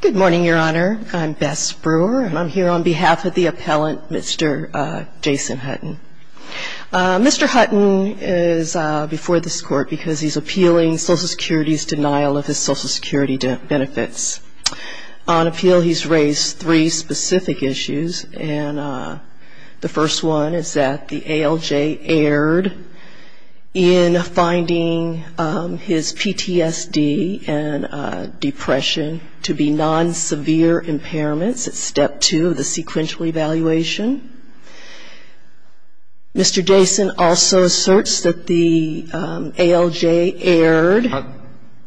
Good morning, Your Honor. I'm Beth Spruer, and I'm here on behalf of the appellant, Mr. Jason Hutton. Mr. Hutton is before this court because he's appealing Social Security's denial of his Social Security benefits. On appeal, he's raised three specific non-severe impairments at Step 2 of the sequential evaluation. Mr. Jason also asserts that the ALJ erred.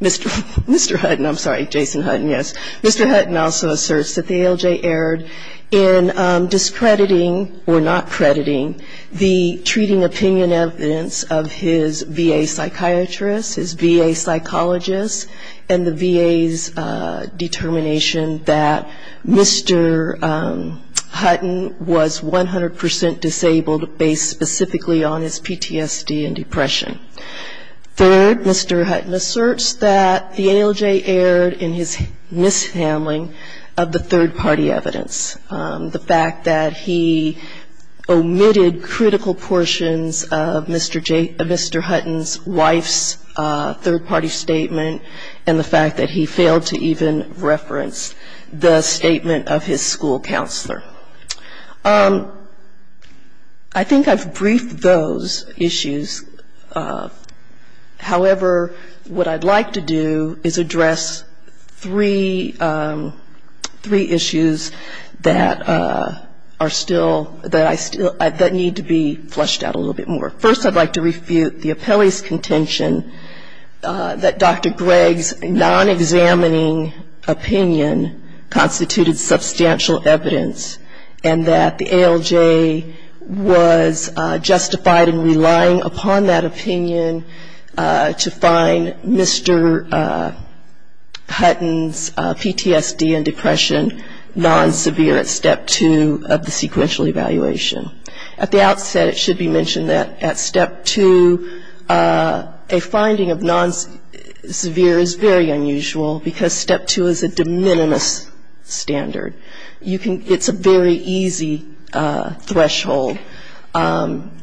Mr. Hutton, I'm sorry, Jason Hutton, yes. Mr. Hutton also asserts that the ALJ erred in discrediting or not crediting the treating opinion evidence of his VA psychiatrist, his VA psychologist, and the VA's determination that Mr. Hutton was 100% disabled based specifically on his PTSD and depression. Third, Mr. Hutton asserts that the ALJ erred in his mishandling of the third-party evidence. The fact that he omitted critical portions of Mr. Hutton's wife's third-party statement and the fact that he failed to even reference the statement of his school counselor. I think I've briefed those issues. However, what I'd like to do is address three issues that are still ñ that need to be flushed out a little bit more. First, I'd like to refute the appellee's contention that Dr. Gregg's non-examining opinion constituted substantial evidence and that the ALJ was justified in relying upon that opinion to find Mr. Hutton's PTSD and depression non-severe at Step 2 of the sequential evaluation. At the outset, it should be mentioned that at Step 2, a finding of non-severe is very unusual because Step 2 is a de minimis standard. It's a very easy threshold. And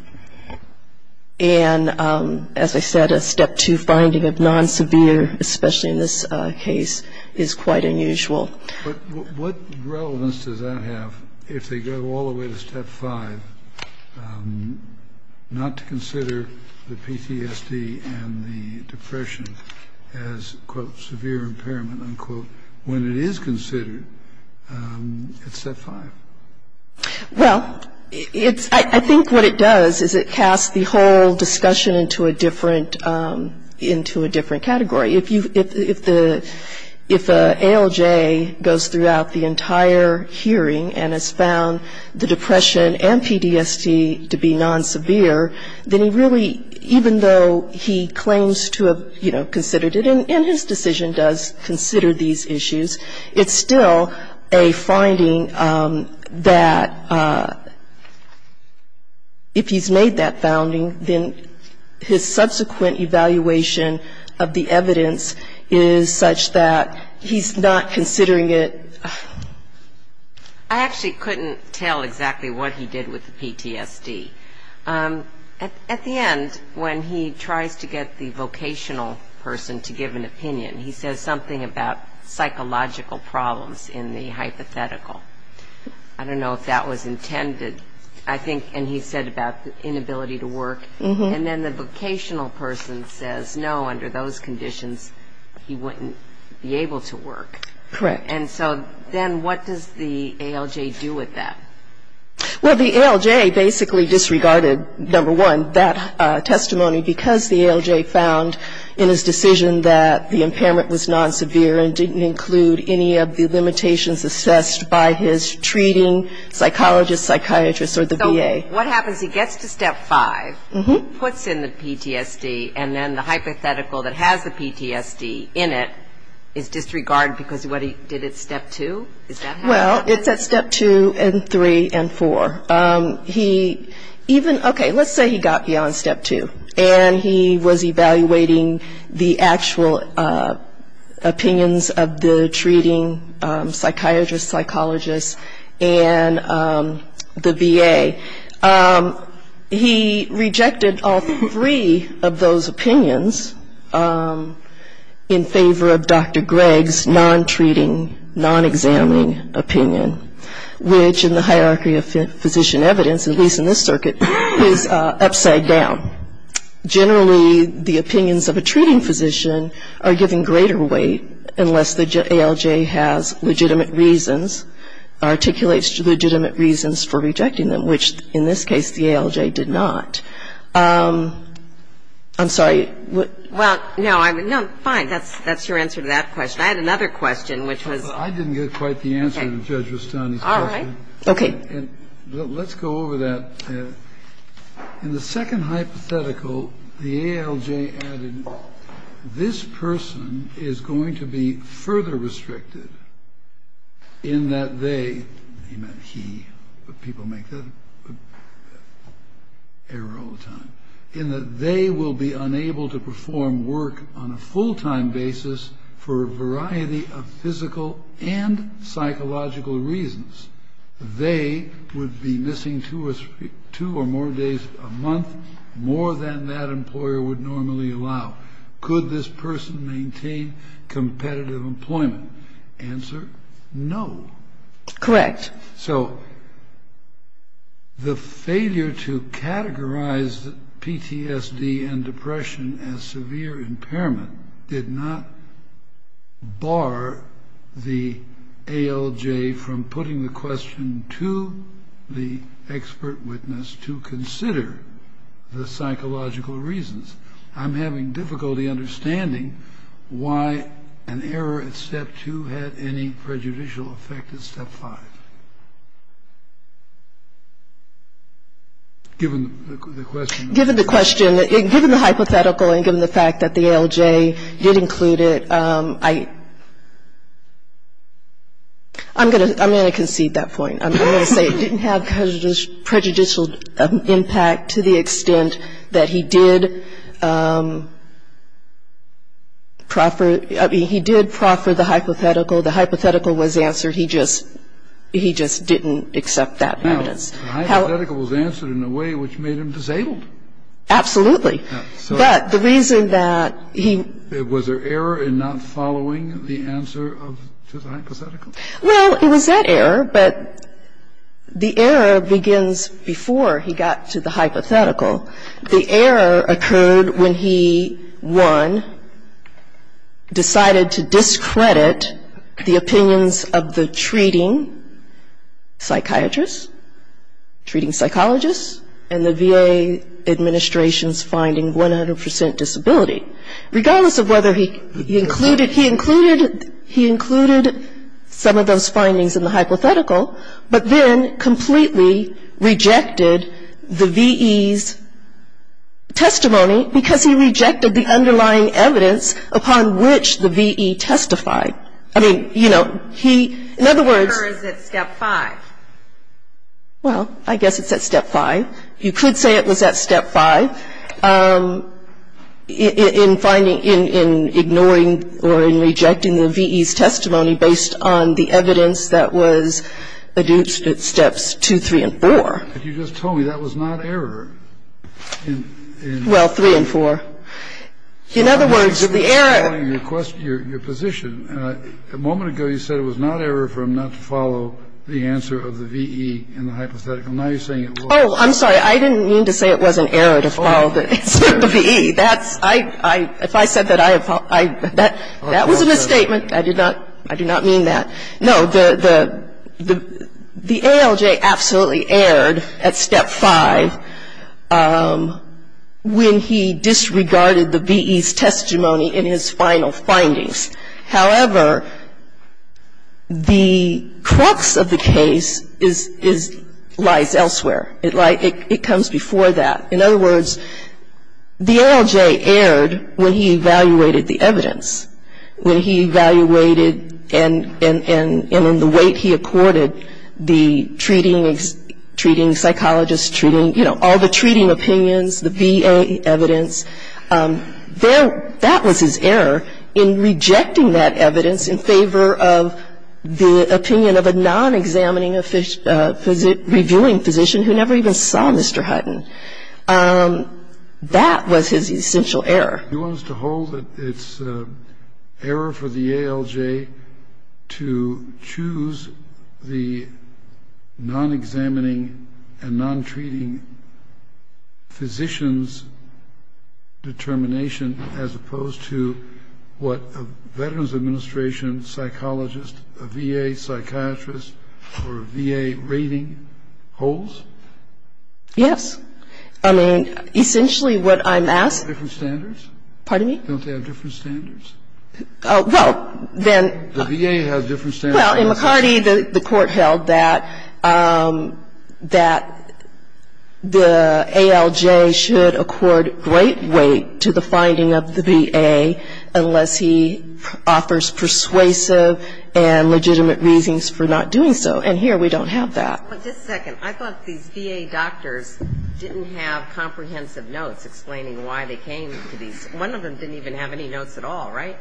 as I said, a Step 2 finding of non-severe, especially in this case, is quite unusual. But what relevance does that have if they go all the way to Step 5, not to consider the PTSD and the depression as, quote, severe impairment, unquote, when it is considered at Step 5? Well, it's ñ I think what it does is it casts the whole discussion into a different ñ into a different category. If you ñ if the ñ if the ALJ goes throughout the entire hearing and has found the depression and PTSD to be non-severe, then he really, even though he claims to have, you know, considered it, and his decision does consider these issues, it's still a finding that if he's made that founding, then his decision is still a non-severe impairment. I actually couldn't tell exactly what he did with the PTSD. At the end, when he tries to get the vocational person to give an opinion, he says something about psychological problems in the hypothetical. I don't know if that was intended. I think ñ and he said about the inability to work. And then the ñ and so then what does the ALJ do with that? Well, the ALJ basically disregarded, number one, that testimony because the ALJ found in his decision that the impairment was non-severe and didn't include any of the limitations assessed by his treating psychologist, psychiatrist, or the VA. So what happens? He gets to Step 5, puts in the PTSD, and then the hypothetical that has the PTSD in it is disregarded because of what he did at Step 5. Is it Step 2? Is that how ñ Well, it's at Step 2 and 3 and 4. He even ñ okay, let's say he got beyond Step 2, and he was evaluating the actual opinions of the treating psychiatrist, psychologist, and the VA. He rejected all three of those opinions in favor of Dr. Gregg's non-treating opinion. So the ALJ has a non-examining opinion, which in the hierarchy of physician evidence, at least in this circuit, is upside down. Generally, the opinions of a treating physician are given greater weight unless the ALJ has legitimate reasons, articulates legitimate reasons for rejecting them, which in this case the ALJ did not. I'm sorry. Well, no, I'm ñ no, fine. That's your answer to that question. I had another question, which was ñ I didn't get quite the answer to Judge Rustani's question. All right. Okay. And let's go over that. In the second hypothetical, the ALJ added, this person is going to be further restricted in that they ñ he meant he, but people make that error all the time ñ in that they will be unable to make a decision. They will be unable to perform work on a full-time basis for a variety of physical and psychological reasons. They would be missing two or more days a month, more than that employer would normally allow. Could this person maintain competitive employment? Answer, no. Correct. So the failure to categorize PTSD and depression as severe impairment did not bar the ALJ from putting the question to the expert witness to consider the psychological reasons. I'm having difficulty understanding why an error at step two had any prejudicial effect at step five. Given the question ñ Given the question ñ given the hypothetical and given the fact that the ALJ did include it, I ñ I'm going to concede that point. I'm going to say it didn't have prejudicial impact to the extent that he did proffer ñ I mean, he did proffer the hypothetical. The hypothetical was answered. He just ñ he just didn't accept that evidence. The hypothetical was answered in a way which made him disabled. Absolutely. But the reason that he ñ Well, it was that error, but the error begins before he got to the hypothetical. The error occurred when he, one, decided to discredit the opinions of the treating psychiatrist, treating psychologist, and the VA administration's finding 100 percent disability. Regardless of whether he included ñ he included ñ he included some of those findings in the hypothetical, but then completely rejected the V.E.'s testimony because he rejected the underlying evidence upon which the V.E. testified. I mean, you know, he ñ in other words ñ The error is at step five. Well, I guess it's at step five. You could say it was at step five in finding ñ in ignoring or in rejecting the V.E.'s testimony based on the evidence that was adduced at steps two, three, and four. But you just told me that was not error in ñ Well, three and four. In other words, the error ñ I didn't mean to say it was an error to follow the V.E. That's ñ I ñ if I said that I have ñ that was a misstatement. I did not ñ I do not mean that. No. The ALJ absolutely erred at step five when he disregarded the V.E.'s testimony in his final findings. However, the crux of the case is ñ lies elsewhere. It lies ñ it comes before that. In other words, the ALJ erred when he evaluated the evidence, when he evaluated and in the weight he accorded the treating ñ treating psychologist, treating ñ you know, all the treating opinions, the VA evidence. There ñ that was his error in rejecting that evidence in favor of the opinion of a non-examining of ñ reviewing physician who never even saw Mr. Hutton. That was his essential error. You want us to hold that it's error for the ALJ to choose the non-examining and non-treating physicians in favor of the V.E. determination, as opposed to what a Veterans Administration psychologist, a VA psychiatrist, or a VA rating holds? Yes. I mean, essentially what I'm asking ñ Don't they have different standards? Pardon me? Don't they have different standards? Well, then ñ The VA has different standards. Well, in McCarty, the court held that ñ that the ALJ should accord great weight to the finding of the VA unless he offers persuasive and legitimate reasons for not doing so. And here we don't have that. But just a second. I thought these VA doctors didn't have comprehensive notes explaining why they came to these ñ one of them didn't even have any notes at all, right?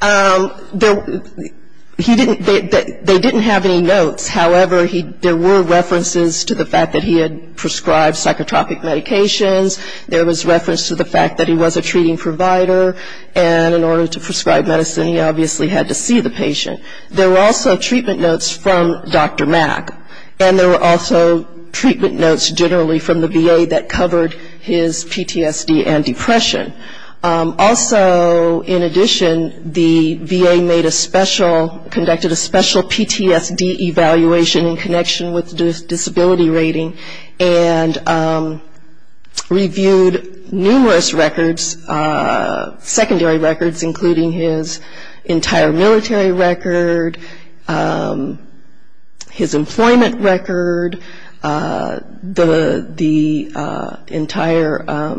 There ñ he didn't ñ they didn't have any notes. However, there were references to the fact that he had prescribed psychotropic medications. There was reference to the fact that he was a treating provider. And in order to prescribe medicine, he obviously had to see the patient. There were also treatment notes from Dr. Mack. And there were also treatment notes generally from the VA that covered his PTSD and depression. Also, in addition, the VA made a special ñ conducted a special PTSD evaluation in connection with the disability rating and reviewed numerous records, secondary records, including his entire military record, his employment record, the entire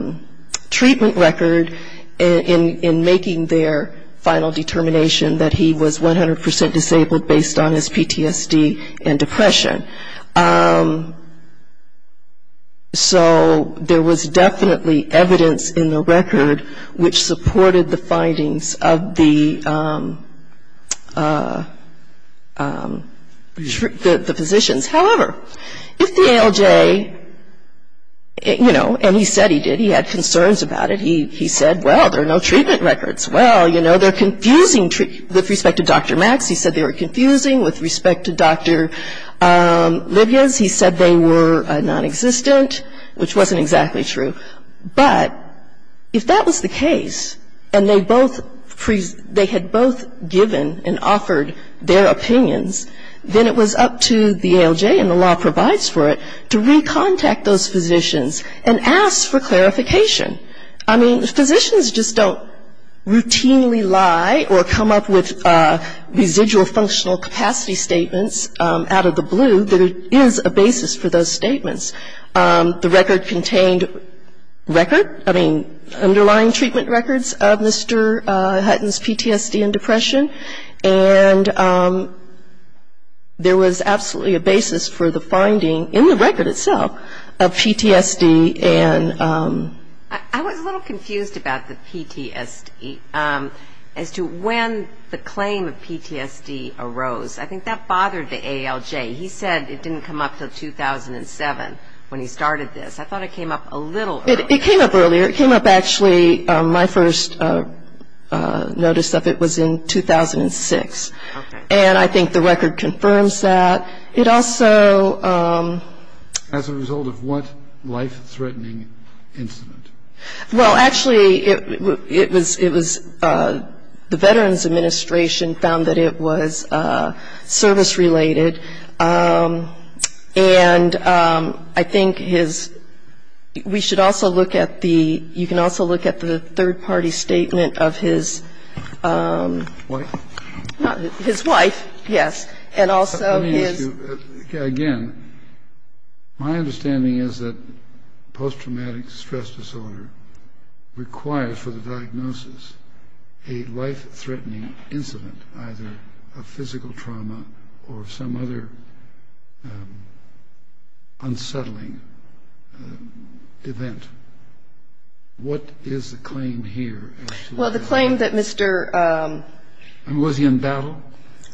treatment record in making their final determination that he was 100% disabled based on his PTSD and depression. So there was definitely evidence in the record which supported the findings of the physicians. However, if the ALJ ñ you know, and he said he did. He had concerns about it. He said, well, there are no treatment records. Well, you know, they're confusing ñ with respect to Dr. Mack, he said they were confusing. With respect to Dr. Livias, he said they were nonexistent, which wasn't exactly true. But if that was the case, and they both ñ they had both given and offered their opinions, then it was up to the ALJ, and the law provides for it, to recontact those physicians and ask for clarification. I mean, physicians just don't routinely lie or come up with residual functional capacity statements out of the blue that it is a basis for those statements. The record contained record ñ I mean, underlying treatment records of Mr. Hutton's PTSD and depression. And there was absolutely a basis for the finding, in the record itself, of PTSD and ñ I was a little confused about the PTSD, as to when the claim of PTSD arose. I think that bothered the ALJ. He said it didn't come up until 2007 when he started this. I thought it came up a little earlier. It came up actually ñ my first notice of it was in 2006. And I think the record confirms that. It also ñ As a result of what life-threatening incident? Well, actually, it was ñ the Veterans Administration found that it was service-related. And I think his ñ we should also look at the ñ you can also look at the third-party statement of his ñ Wife? His wife, yes, and also his ñ Let me ask you again. My understanding is that post-traumatic stress disorder requires for the diagnosis a life-threatening incident, either a physical trauma or some other unsettling event. What is the claim here? Well, the claim that Mr. ñ And was he in battle?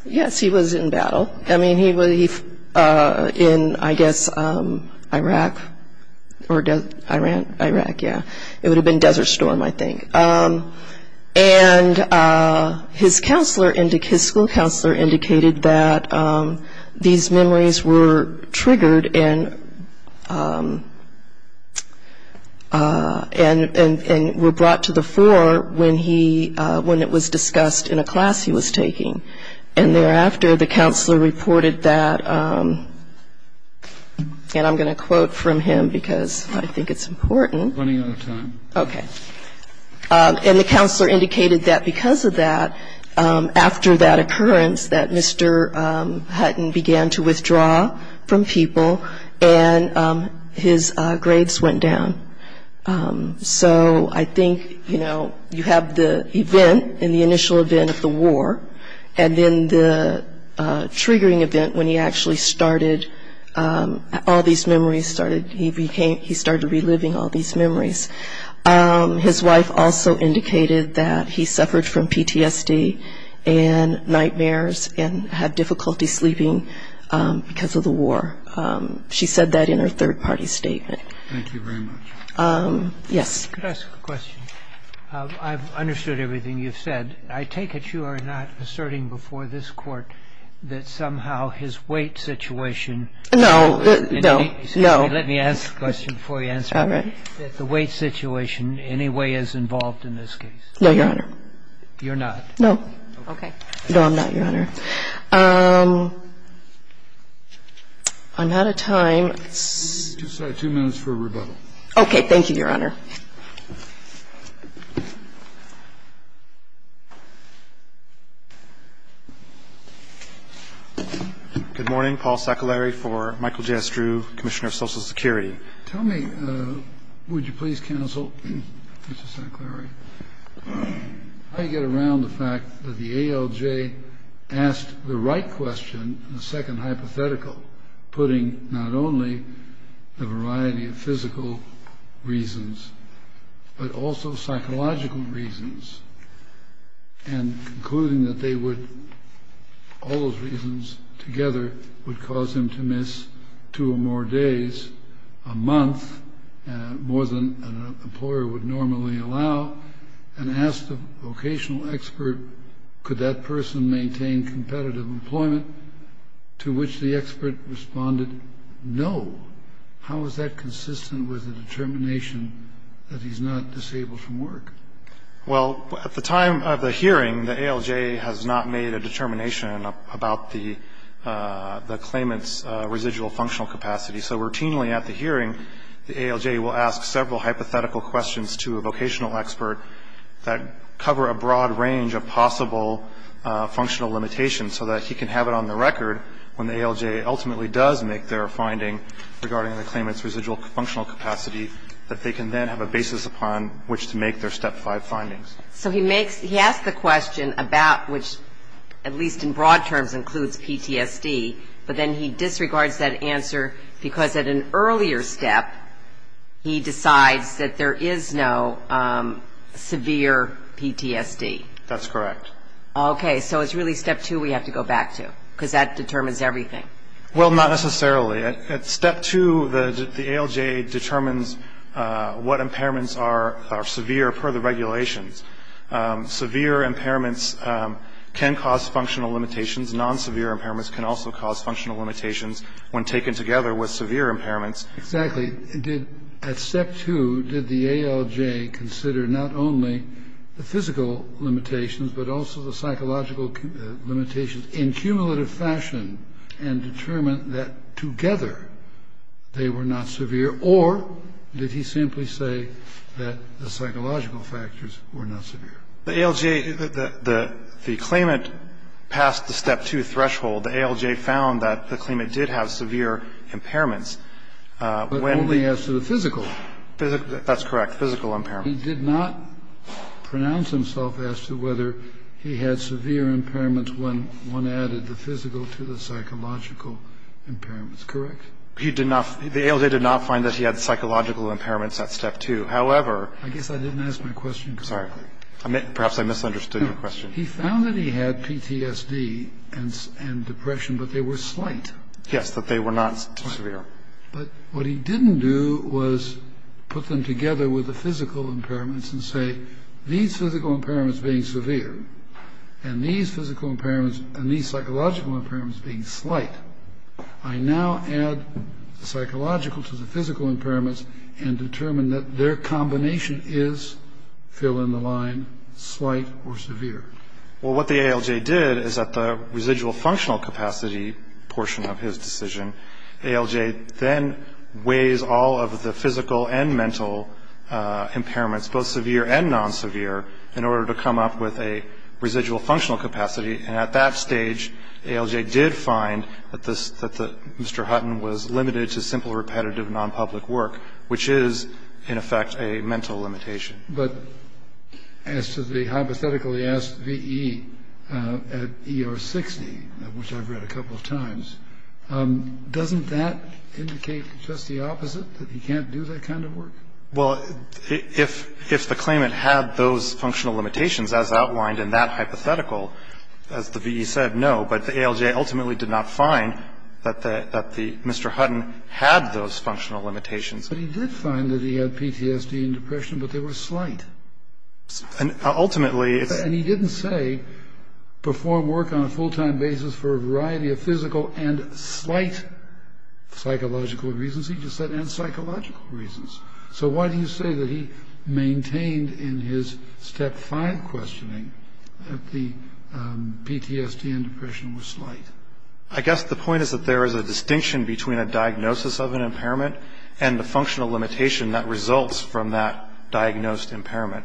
Yes, he was in battle. I mean, he was in, I guess, Iraq or ñ Iran? Iraq, yeah. It would have been Desert Storm, I think. And his counselor ñ his school counselor indicated that these memories were triggered and were brought to the fore when he ñ when it was discussed in a class he was taking. And thereafter, the counselor reported that ñ and I'm going to quote from him because I think it's important. Running out of time. Okay. And the counselor indicated that because of that, after that occurrence, that Mr. Hutton began to withdraw from people and his grades went down. So I think, you know, you have the event in the initial event of the war, and you have a lot of memories. His wife also indicated that he suffered from PTSD and nightmares and had difficulty sleeping because of the war. She said that in her third-party statement. Thank you very much. Yes. Could I ask a question? I've understood everything you've said. I take it you are not asserting before this Court that somehow his weight situation ñ No. No. No. Let me ask the question before you answer it. All right. That the weight situation in any way is involved in this case. No, Your Honor. You're not? No. Okay. No, I'm not, Your Honor. I'm out of time. Just two minutes for rebuttal. Okay. Thank you, Your Honor. Good morning. Paul Saccolari for Michael J. Estrue, Commissioner of Social Security. Tell me, would you please counsel, Mr. Saccolari, how you get around the fact that the ALJ asked the right question in the second hypothetical, putting not only the variety of physical reasons but also psychological reasons and concluding that they would, all those reasons together, would cause him to miss two or more days a month, more than an employer would normally allow, and ask the vocational expert, could that person maintain competitive employment, to which the expert responded, no. How is that consistent with the determination that he's not disabled from work? Well, at the time of the hearing, the ALJ has not made a determination about the claimant's residual functional capacity. So routinely at the hearing, the ALJ will ask several hypothetical questions to a vocational expert that cover a broad range of possible functional limitations so that he can have it on the record when the ALJ ultimately does make their finding regarding the claimant's residual functional capacity that they can then have a basis upon which to make their Step 5 findings. So he asks the question about which, at least in broad terms, includes PTSD, but then he disregards that answer because at an earlier step he decides that there is no severe PTSD. That's correct. Okay. So it's really Step 2 we have to go back to because that determines everything. Well, not necessarily. At Step 2, the ALJ determines what impairments are severe per the regulations. Severe impairments can cause functional limitations. Non-severe impairments can also cause functional limitations when taken together with severe impairments. Exactly. At Step 2, did the ALJ consider not only the physical limitations but also the psychological limitations in cumulative fashion and determine that together they were not severe, or did he simply say that the psychological factors were not severe? The ALJ, the claimant passed the Step 2 threshold. The ALJ found that the claimant did have severe impairments. But only as to the physical. That's correct, physical impairments. He did not pronounce himself as to whether he had severe impairments when one added the physical to the psychological impairments. Correct? The ALJ did not find that he had psychological impairments at Step 2. I guess I didn't ask my question correctly. Perhaps I misunderstood your question. He found that he had PTSD and depression, but they were slight. Yes, that they were not severe. But what he didn't do was put them together with the physical impairments and say these physical impairments being severe and these psychological impairments being slight. I now add the psychological to the physical impairments and determine that their combination is, fill in the line, slight or severe. Well, what the ALJ did is at the residual functional capacity portion of his decision, ALJ then weighs all of the physical and mental impairments, both severe and non-severe, in order to come up with a residual functional capacity. And at that stage, ALJ did find that Mr. Hutton was limited to simple, repetitive, non-public work, which is, in effect, a mental limitation. But as to the hypothetically asked VE at ER 60, which I've read a couple of times, doesn't that indicate just the opposite, that he can't do that kind of work? Well, if the claimant had those functional limitations, as outlined in that hypothetical, as the VE said, no. But the ALJ ultimately did not find that Mr. Hutton had those functional limitations. But he did find that he had PTSD and depression, but they were slight. Ultimately, it's... And he didn't say perform work on a full-time basis for a variety of physical and slight psychological reasons. He just said, and psychological reasons. So why do you say that he maintained in his Step 5 questioning that the PTSD and depression were slight? I guess the point is that there is a distinction between a diagnosis of an impairment and the functional limitation that results from that diagnosed impairment.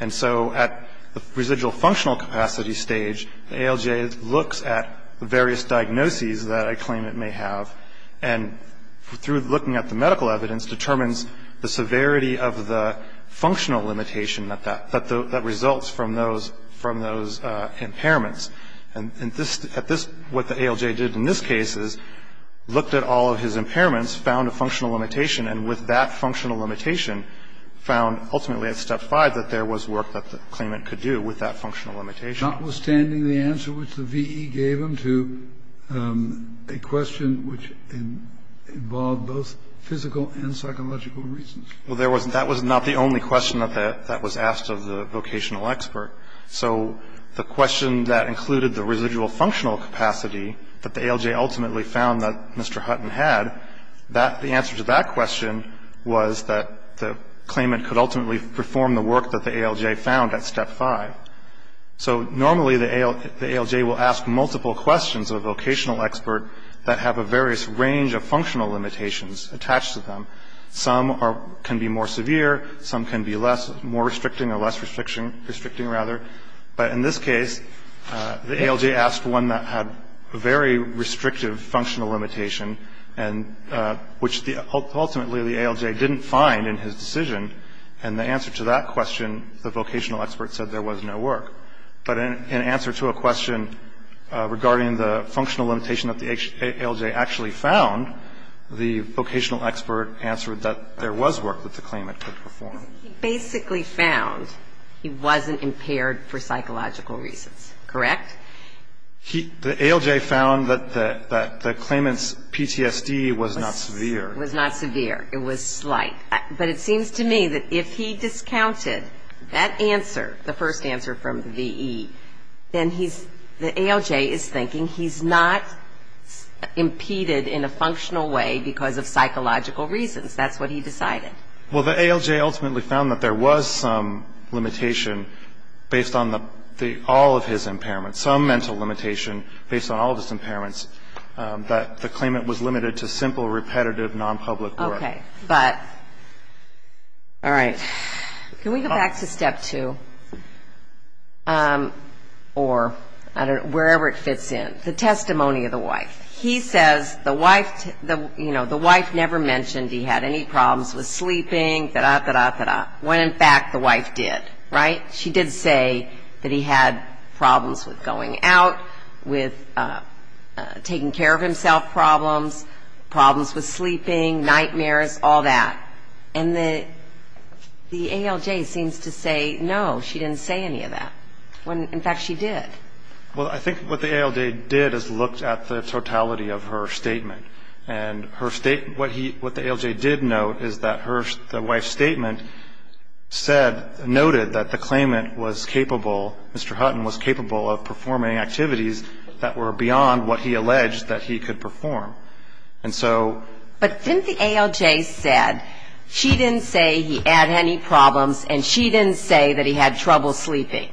And so at the residual functional capacity stage, ALJ looks at the various diagnoses that a claimant may have, and through looking at the medical evidence, determines the severity of the functional limitation that results from those impairments. And what the ALJ did in this case is looked at all of his impairments, found a functional limitation, and with that functional limitation found ultimately at Step 5 that there was work that the claimant could do with that functional limitation. Notwithstanding the answer which the V.E. gave him to a question which involved both physical and psychological reasons. Well, that was not the only question that was asked of the vocational expert. So the question that included the residual functional capacity that the ALJ ultimately found that Mr. Hutton had, the answer to that question was that the claimant could ultimately perform the work that the ALJ found at Step 5. So normally the ALJ will ask multiple questions of a vocational expert that have a various range of functional limitations attached to them. Some can be more severe. Some can be less, more restricting or less restricting, rather. But in this case, the ALJ asked one that had a very restrictive functional limitation, which ultimately the ALJ didn't find in his decision. And the answer to that question, the vocational expert said there was no work. But in answer to a question regarding the functional limitation that the ALJ actually found, the vocational expert answered that there was work that the claimant could perform. He basically found he wasn't impaired for psychological reasons. Correct? The ALJ found that the claimant's PTSD was not severe. Was not severe. It was slight. But it seems to me that if he discounted that answer, the first answer from V.E., then he's, the ALJ is thinking he's not impeded in a functional way because of psychological reasons. That's what he decided. Well, the ALJ ultimately found that there was some limitation based on all of his impairments, some mental limitation based on all of his impairments, that the claimant was limited to simple, repetitive, nonpublic work. Okay. But, all right. Can we go back to step two? Or, I don't know, wherever it fits in. The testimony of the wife. He says the wife, you know, the wife never mentioned he had any problems with sleeping, da-da-da-da-da-da, when in fact the wife did, right? She did say that he had problems with going out, with taking care of himself problems, problems with sleeping, nightmares, all that. And the ALJ seems to say, no, she didn't say any of that, when in fact she did. Well, I think what the ALJ did is looked at the totality of her statement. And what the ALJ did note is that the wife's statement said, noted that the claimant was capable, Mr. Hutton, was capable of performing activities that were beyond what he alleged that he could perform. And so. But didn't the ALJ said, she didn't say he had any problems, and she didn't say that he had trouble sleeping,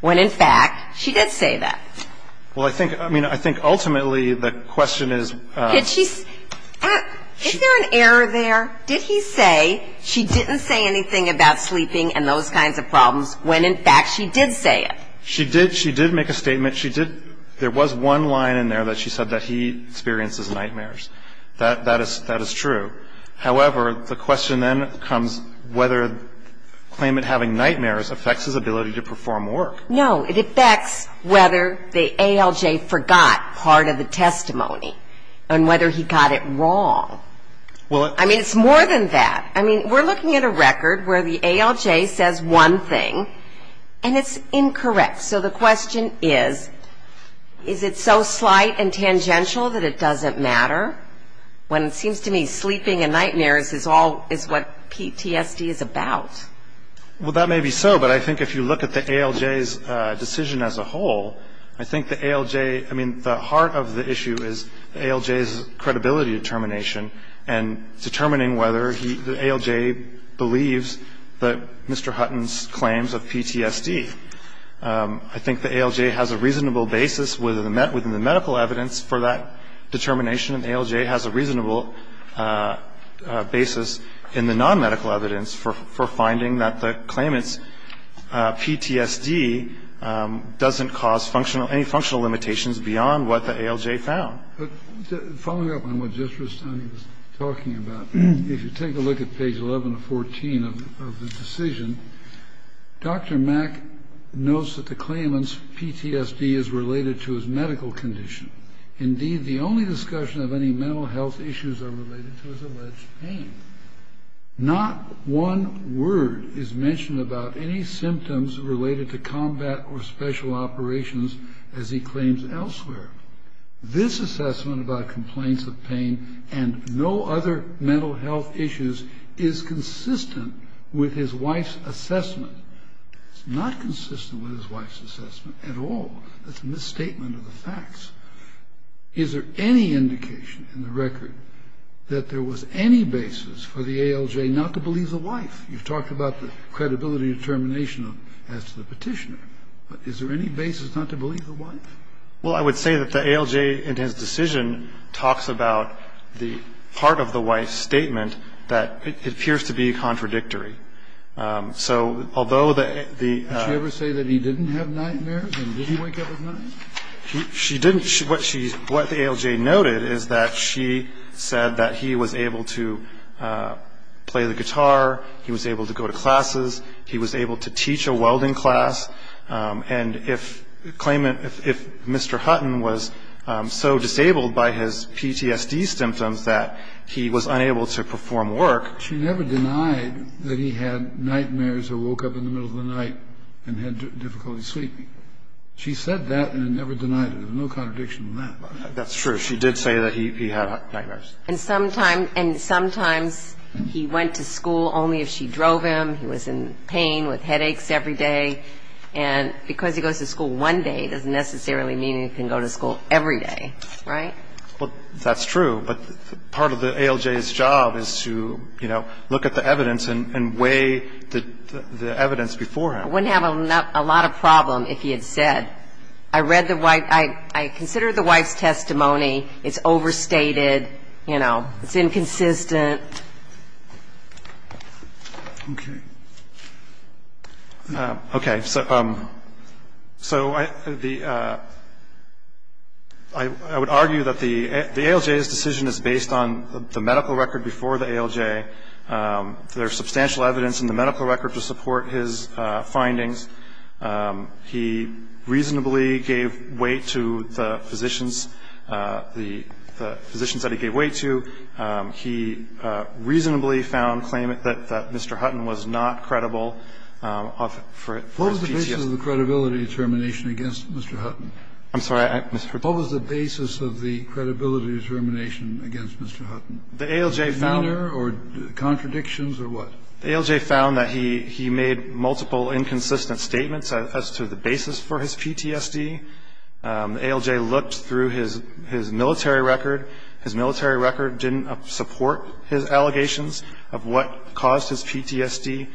when in fact she did say that? Well, I think, I mean, I think ultimately the question is. Did she, is there an error there? Did he say she didn't say anything about sleeping and those kinds of problems, when in fact she did say it? She did, she did make a statement. She did, there was one line in there that she said that he experiences nightmares. That is, that is true. However, the question then comes whether the claimant having nightmares affects his ability to perform work. No, it affects whether the ALJ forgot part of the testimony, and whether he got it wrong. Well, it. I mean, it's more than that. I mean, we're looking at a record where the ALJ says one thing, and it's incorrect. So the question is, is it so slight and tangential that it doesn't matter? When it seems to me sleeping and nightmares is all, is what PTSD is about. Well, that may be so, but I think if you look at the ALJ's decision as a whole, I think the ALJ, I mean, the heart of the issue is ALJ's credibility determination, and determining whether he, the ALJ believes that Mr. Hutton's claims of PTSD. I think the ALJ has a reasonable basis within the medical evidence for that determination, and the ALJ has a reasonable basis in the nonmedical evidence for finding that the claimant's PTSD doesn't cause functional, any functional limitations beyond what the ALJ found. Following up on what Judge Rustoni was talking about, if you take a look at page 11 of 14 of the decision, Dr. Mack notes that the claimant's PTSD is related to his medical condition. Indeed, the only discussion of any mental health issues are related to his alleged pain. Not one word is mentioned about any symptoms related to combat or special operations, as he claims elsewhere. This assessment about complaints of pain and no other mental health issues is consistent with his wife's assessment. It's not consistent with his wife's assessment at all. That's a misstatement of the facts. Is there any indication in the record that there was any basis for the ALJ not to believe the wife? You've talked about the credibility determination as to the petitioner, but is there any basis not to believe the wife? Well, I would say that the ALJ, in his decision, talks about the part of the wife's statement that appears to be contradictory. So although the- Did she ever say that he didn't have nightmares and didn't wake up at night? She didn't. What the ALJ noted is that she said that he was able to play the guitar, he was able to go to classes, he was able to teach a welding class. And if Mr. Hutton was so disabled by his PTSD symptoms that he was unable to perform work- She never denied that he had nightmares or woke up in the middle of the night and had difficulty sleeping. She said that and never denied it. There's no contradiction in that. That's true. She did say that he had nightmares. And sometimes he went to school only if she drove him. He was in pain with headaches every day. And because he goes to school one day, it doesn't necessarily mean he can go to school every day. Right? Well, that's true. But part of the ALJ's job is to, you know, look at the evidence and weigh the evidence beforehand. I wouldn't have a lot of problem if he had said, I read the wife's testimony, it's overstated, you know, it's inconsistent. Okay. Okay. So I would argue that the ALJ's decision is based on the medical record before the ALJ. There's substantial evidence in the medical record to support his findings. He reasonably gave weight to the physicians that he gave weight to. He reasonably found claimant that Mr. Hutton was not credible for his PTSD. What was the basis of the credibility determination against Mr. Hutton? I'm sorry. What was the basis of the credibility determination against Mr. Hutton? The ALJ found. Meaner or contradictions or what? The ALJ found that he made multiple inconsistent statements as to the basis for his PTSD. The ALJ looked through his military record. His military record didn't support his allegations of what caused his PTSD.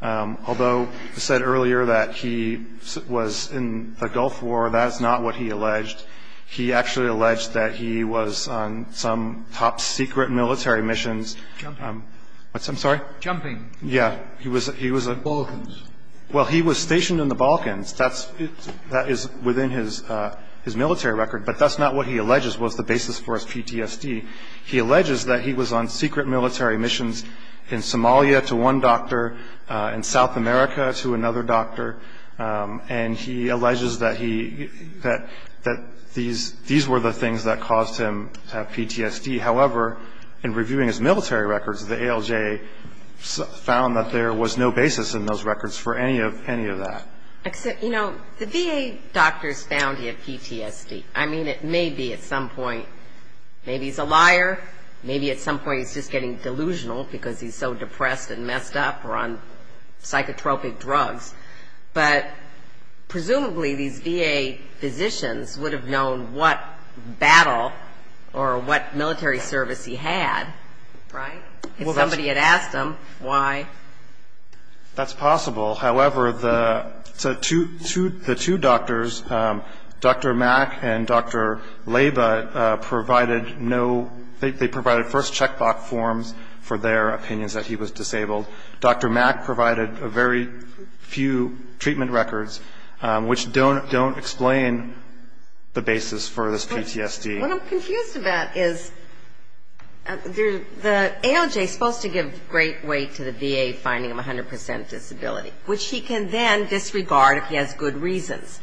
Although I said earlier that he was in the Gulf War, that is not what he alleged. He actually alleged that he was on some top secret military missions. Jumping. What's that? I'm sorry? Jumping. He was at the Balkans. Well, he was stationed in the Balkans. That is within his military record, but that's not what he alleges was the basis for his PTSD. He alleges that he was on secret military missions in Somalia to one doctor, in South America to another doctor, and he alleges that these were the things that caused him PTSD. However, in reviewing his military records, the ALJ found that there was no basis in those records for any of that. You know, the VA doctors found he had PTSD. I mean, it may be at some point, maybe he's a liar, maybe at some point he's just getting delusional because he's so depressed and messed up or on psychotropic drugs, but presumably these VA physicians would have known what battle or what military service he had, right? If somebody had asked him why. That's possible. However, the two doctors, Dr. Mack and Dr. Laba, provided no, they provided first checkbox forms for their opinions that he was disabled. Dr. Mack provided very few treatment records, which don't explain the basis for this PTSD. What I'm confused about is the ALJ is supposed to give great weight to the VA finding him 100% disability, which he can then disregard if he has good reasons.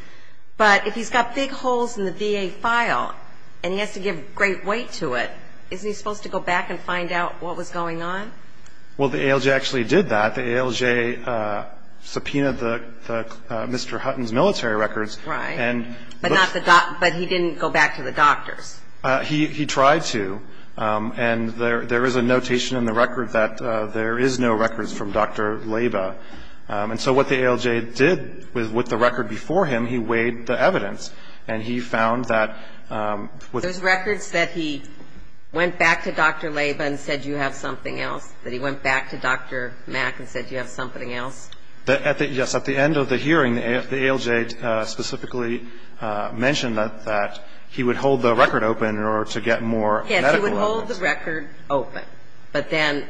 But if he's got big holes in the VA file and he has to give great weight to it, isn't he supposed to go back and find out what was going on? Well, the ALJ actually did that. The ALJ subpoenaed Mr. Hutton's military records. Right. But he didn't go back to the doctors. He tried to. And there is a notation in the record that there is no records from Dr. Laba. And so what the ALJ did with the record before him, he weighed the evidence. And he found that with Those records that he went back to Dr. Laba and said you have something else, that he went back to Dr. Mack and said you have something else? Yes. At the end of the hearing, the ALJ specifically mentioned that he would hold the record open in order to get more medical evidence. Yes. He would hold the record open. But then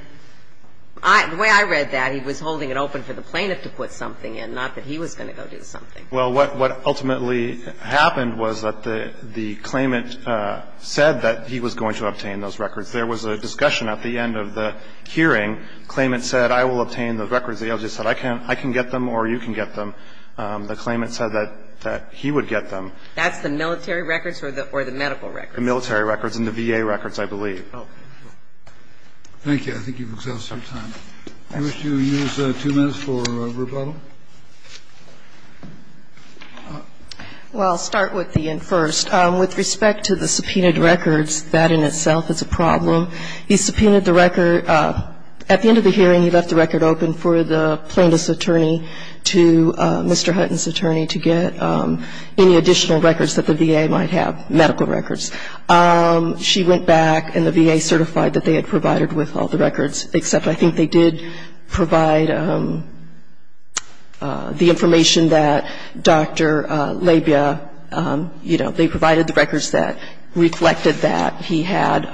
the way I read that, he was holding it open for the plaintiff to put something in, not that he was going to go do something. Well, what ultimately happened was that the claimant said that he was going to obtain those records. There was a discussion at the end of the hearing. The claimant said I will obtain those records. The ALJ said I can get them or you can get them. The claimant said that he would get them. That's the military records or the medical records? The military records and the VA records, I believe. Okay. Thank you. I think you've exhausted your time. I wish you would use two minutes for rebuttal. Well, I'll start with Ian first. With respect to the subpoenaed records, that in itself is a problem. He subpoenaed the record. At the end of the hearing, he left the record open for the plaintiff's attorney to, Mr. Hutton's attorney, to get any additional records that the VA might have, medical records. She went back and the VA certified that they had provided with all the records, except I think they did provide the information that Dr. Labia, you know, they provided the records that reflected that he had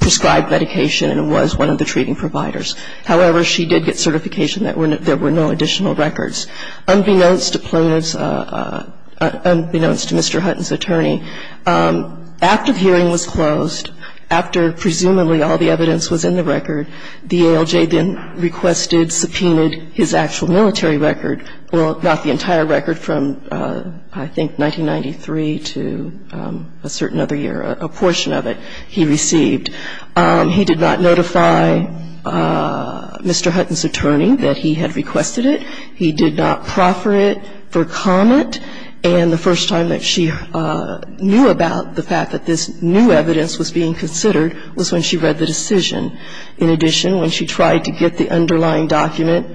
prescribed medication and was one of the treating providers. However, she did get certification that there were no additional records. Unbeknownst to Mr. Hutton's attorney, after the hearing was closed, after presumably all the evidence was in the record, the ALJ then requested, subpoenaed his actual military record, well, not the entire record, from I think 1993 to a certain other year, a portion of it, he received. He did not notify Mr. Hutton's attorney that he had requested it. He did not proffer it for comment. And the first time that she knew about the fact that this new evidence was being considered was when she read the decision. In addition, when she tried to get the underlying document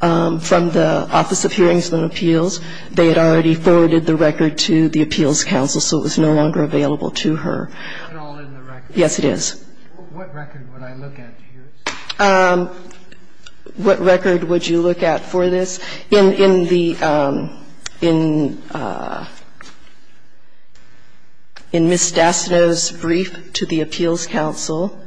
from the Office of Hearings and Appeals, they had already forwarded the record to the Appeals Council, so it was no longer available to her. It's not all in the record. Yes, it is. What record would I look at to use? What record would you look at for this? In Ms. Dastanow's brief to the Appeals Council,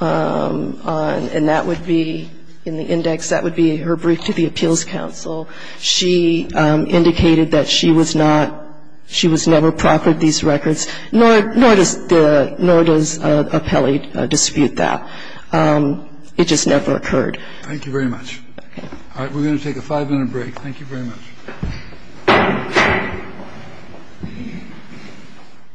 and that would be in the index, that would be her brief to the Appeals Council, she indicated that she was not, she was never proffered these records, nor does the, nor does Appelli dispute that. It just never occurred. Thank you very much. All right. We're going to take a five-minute break. Thank you very much.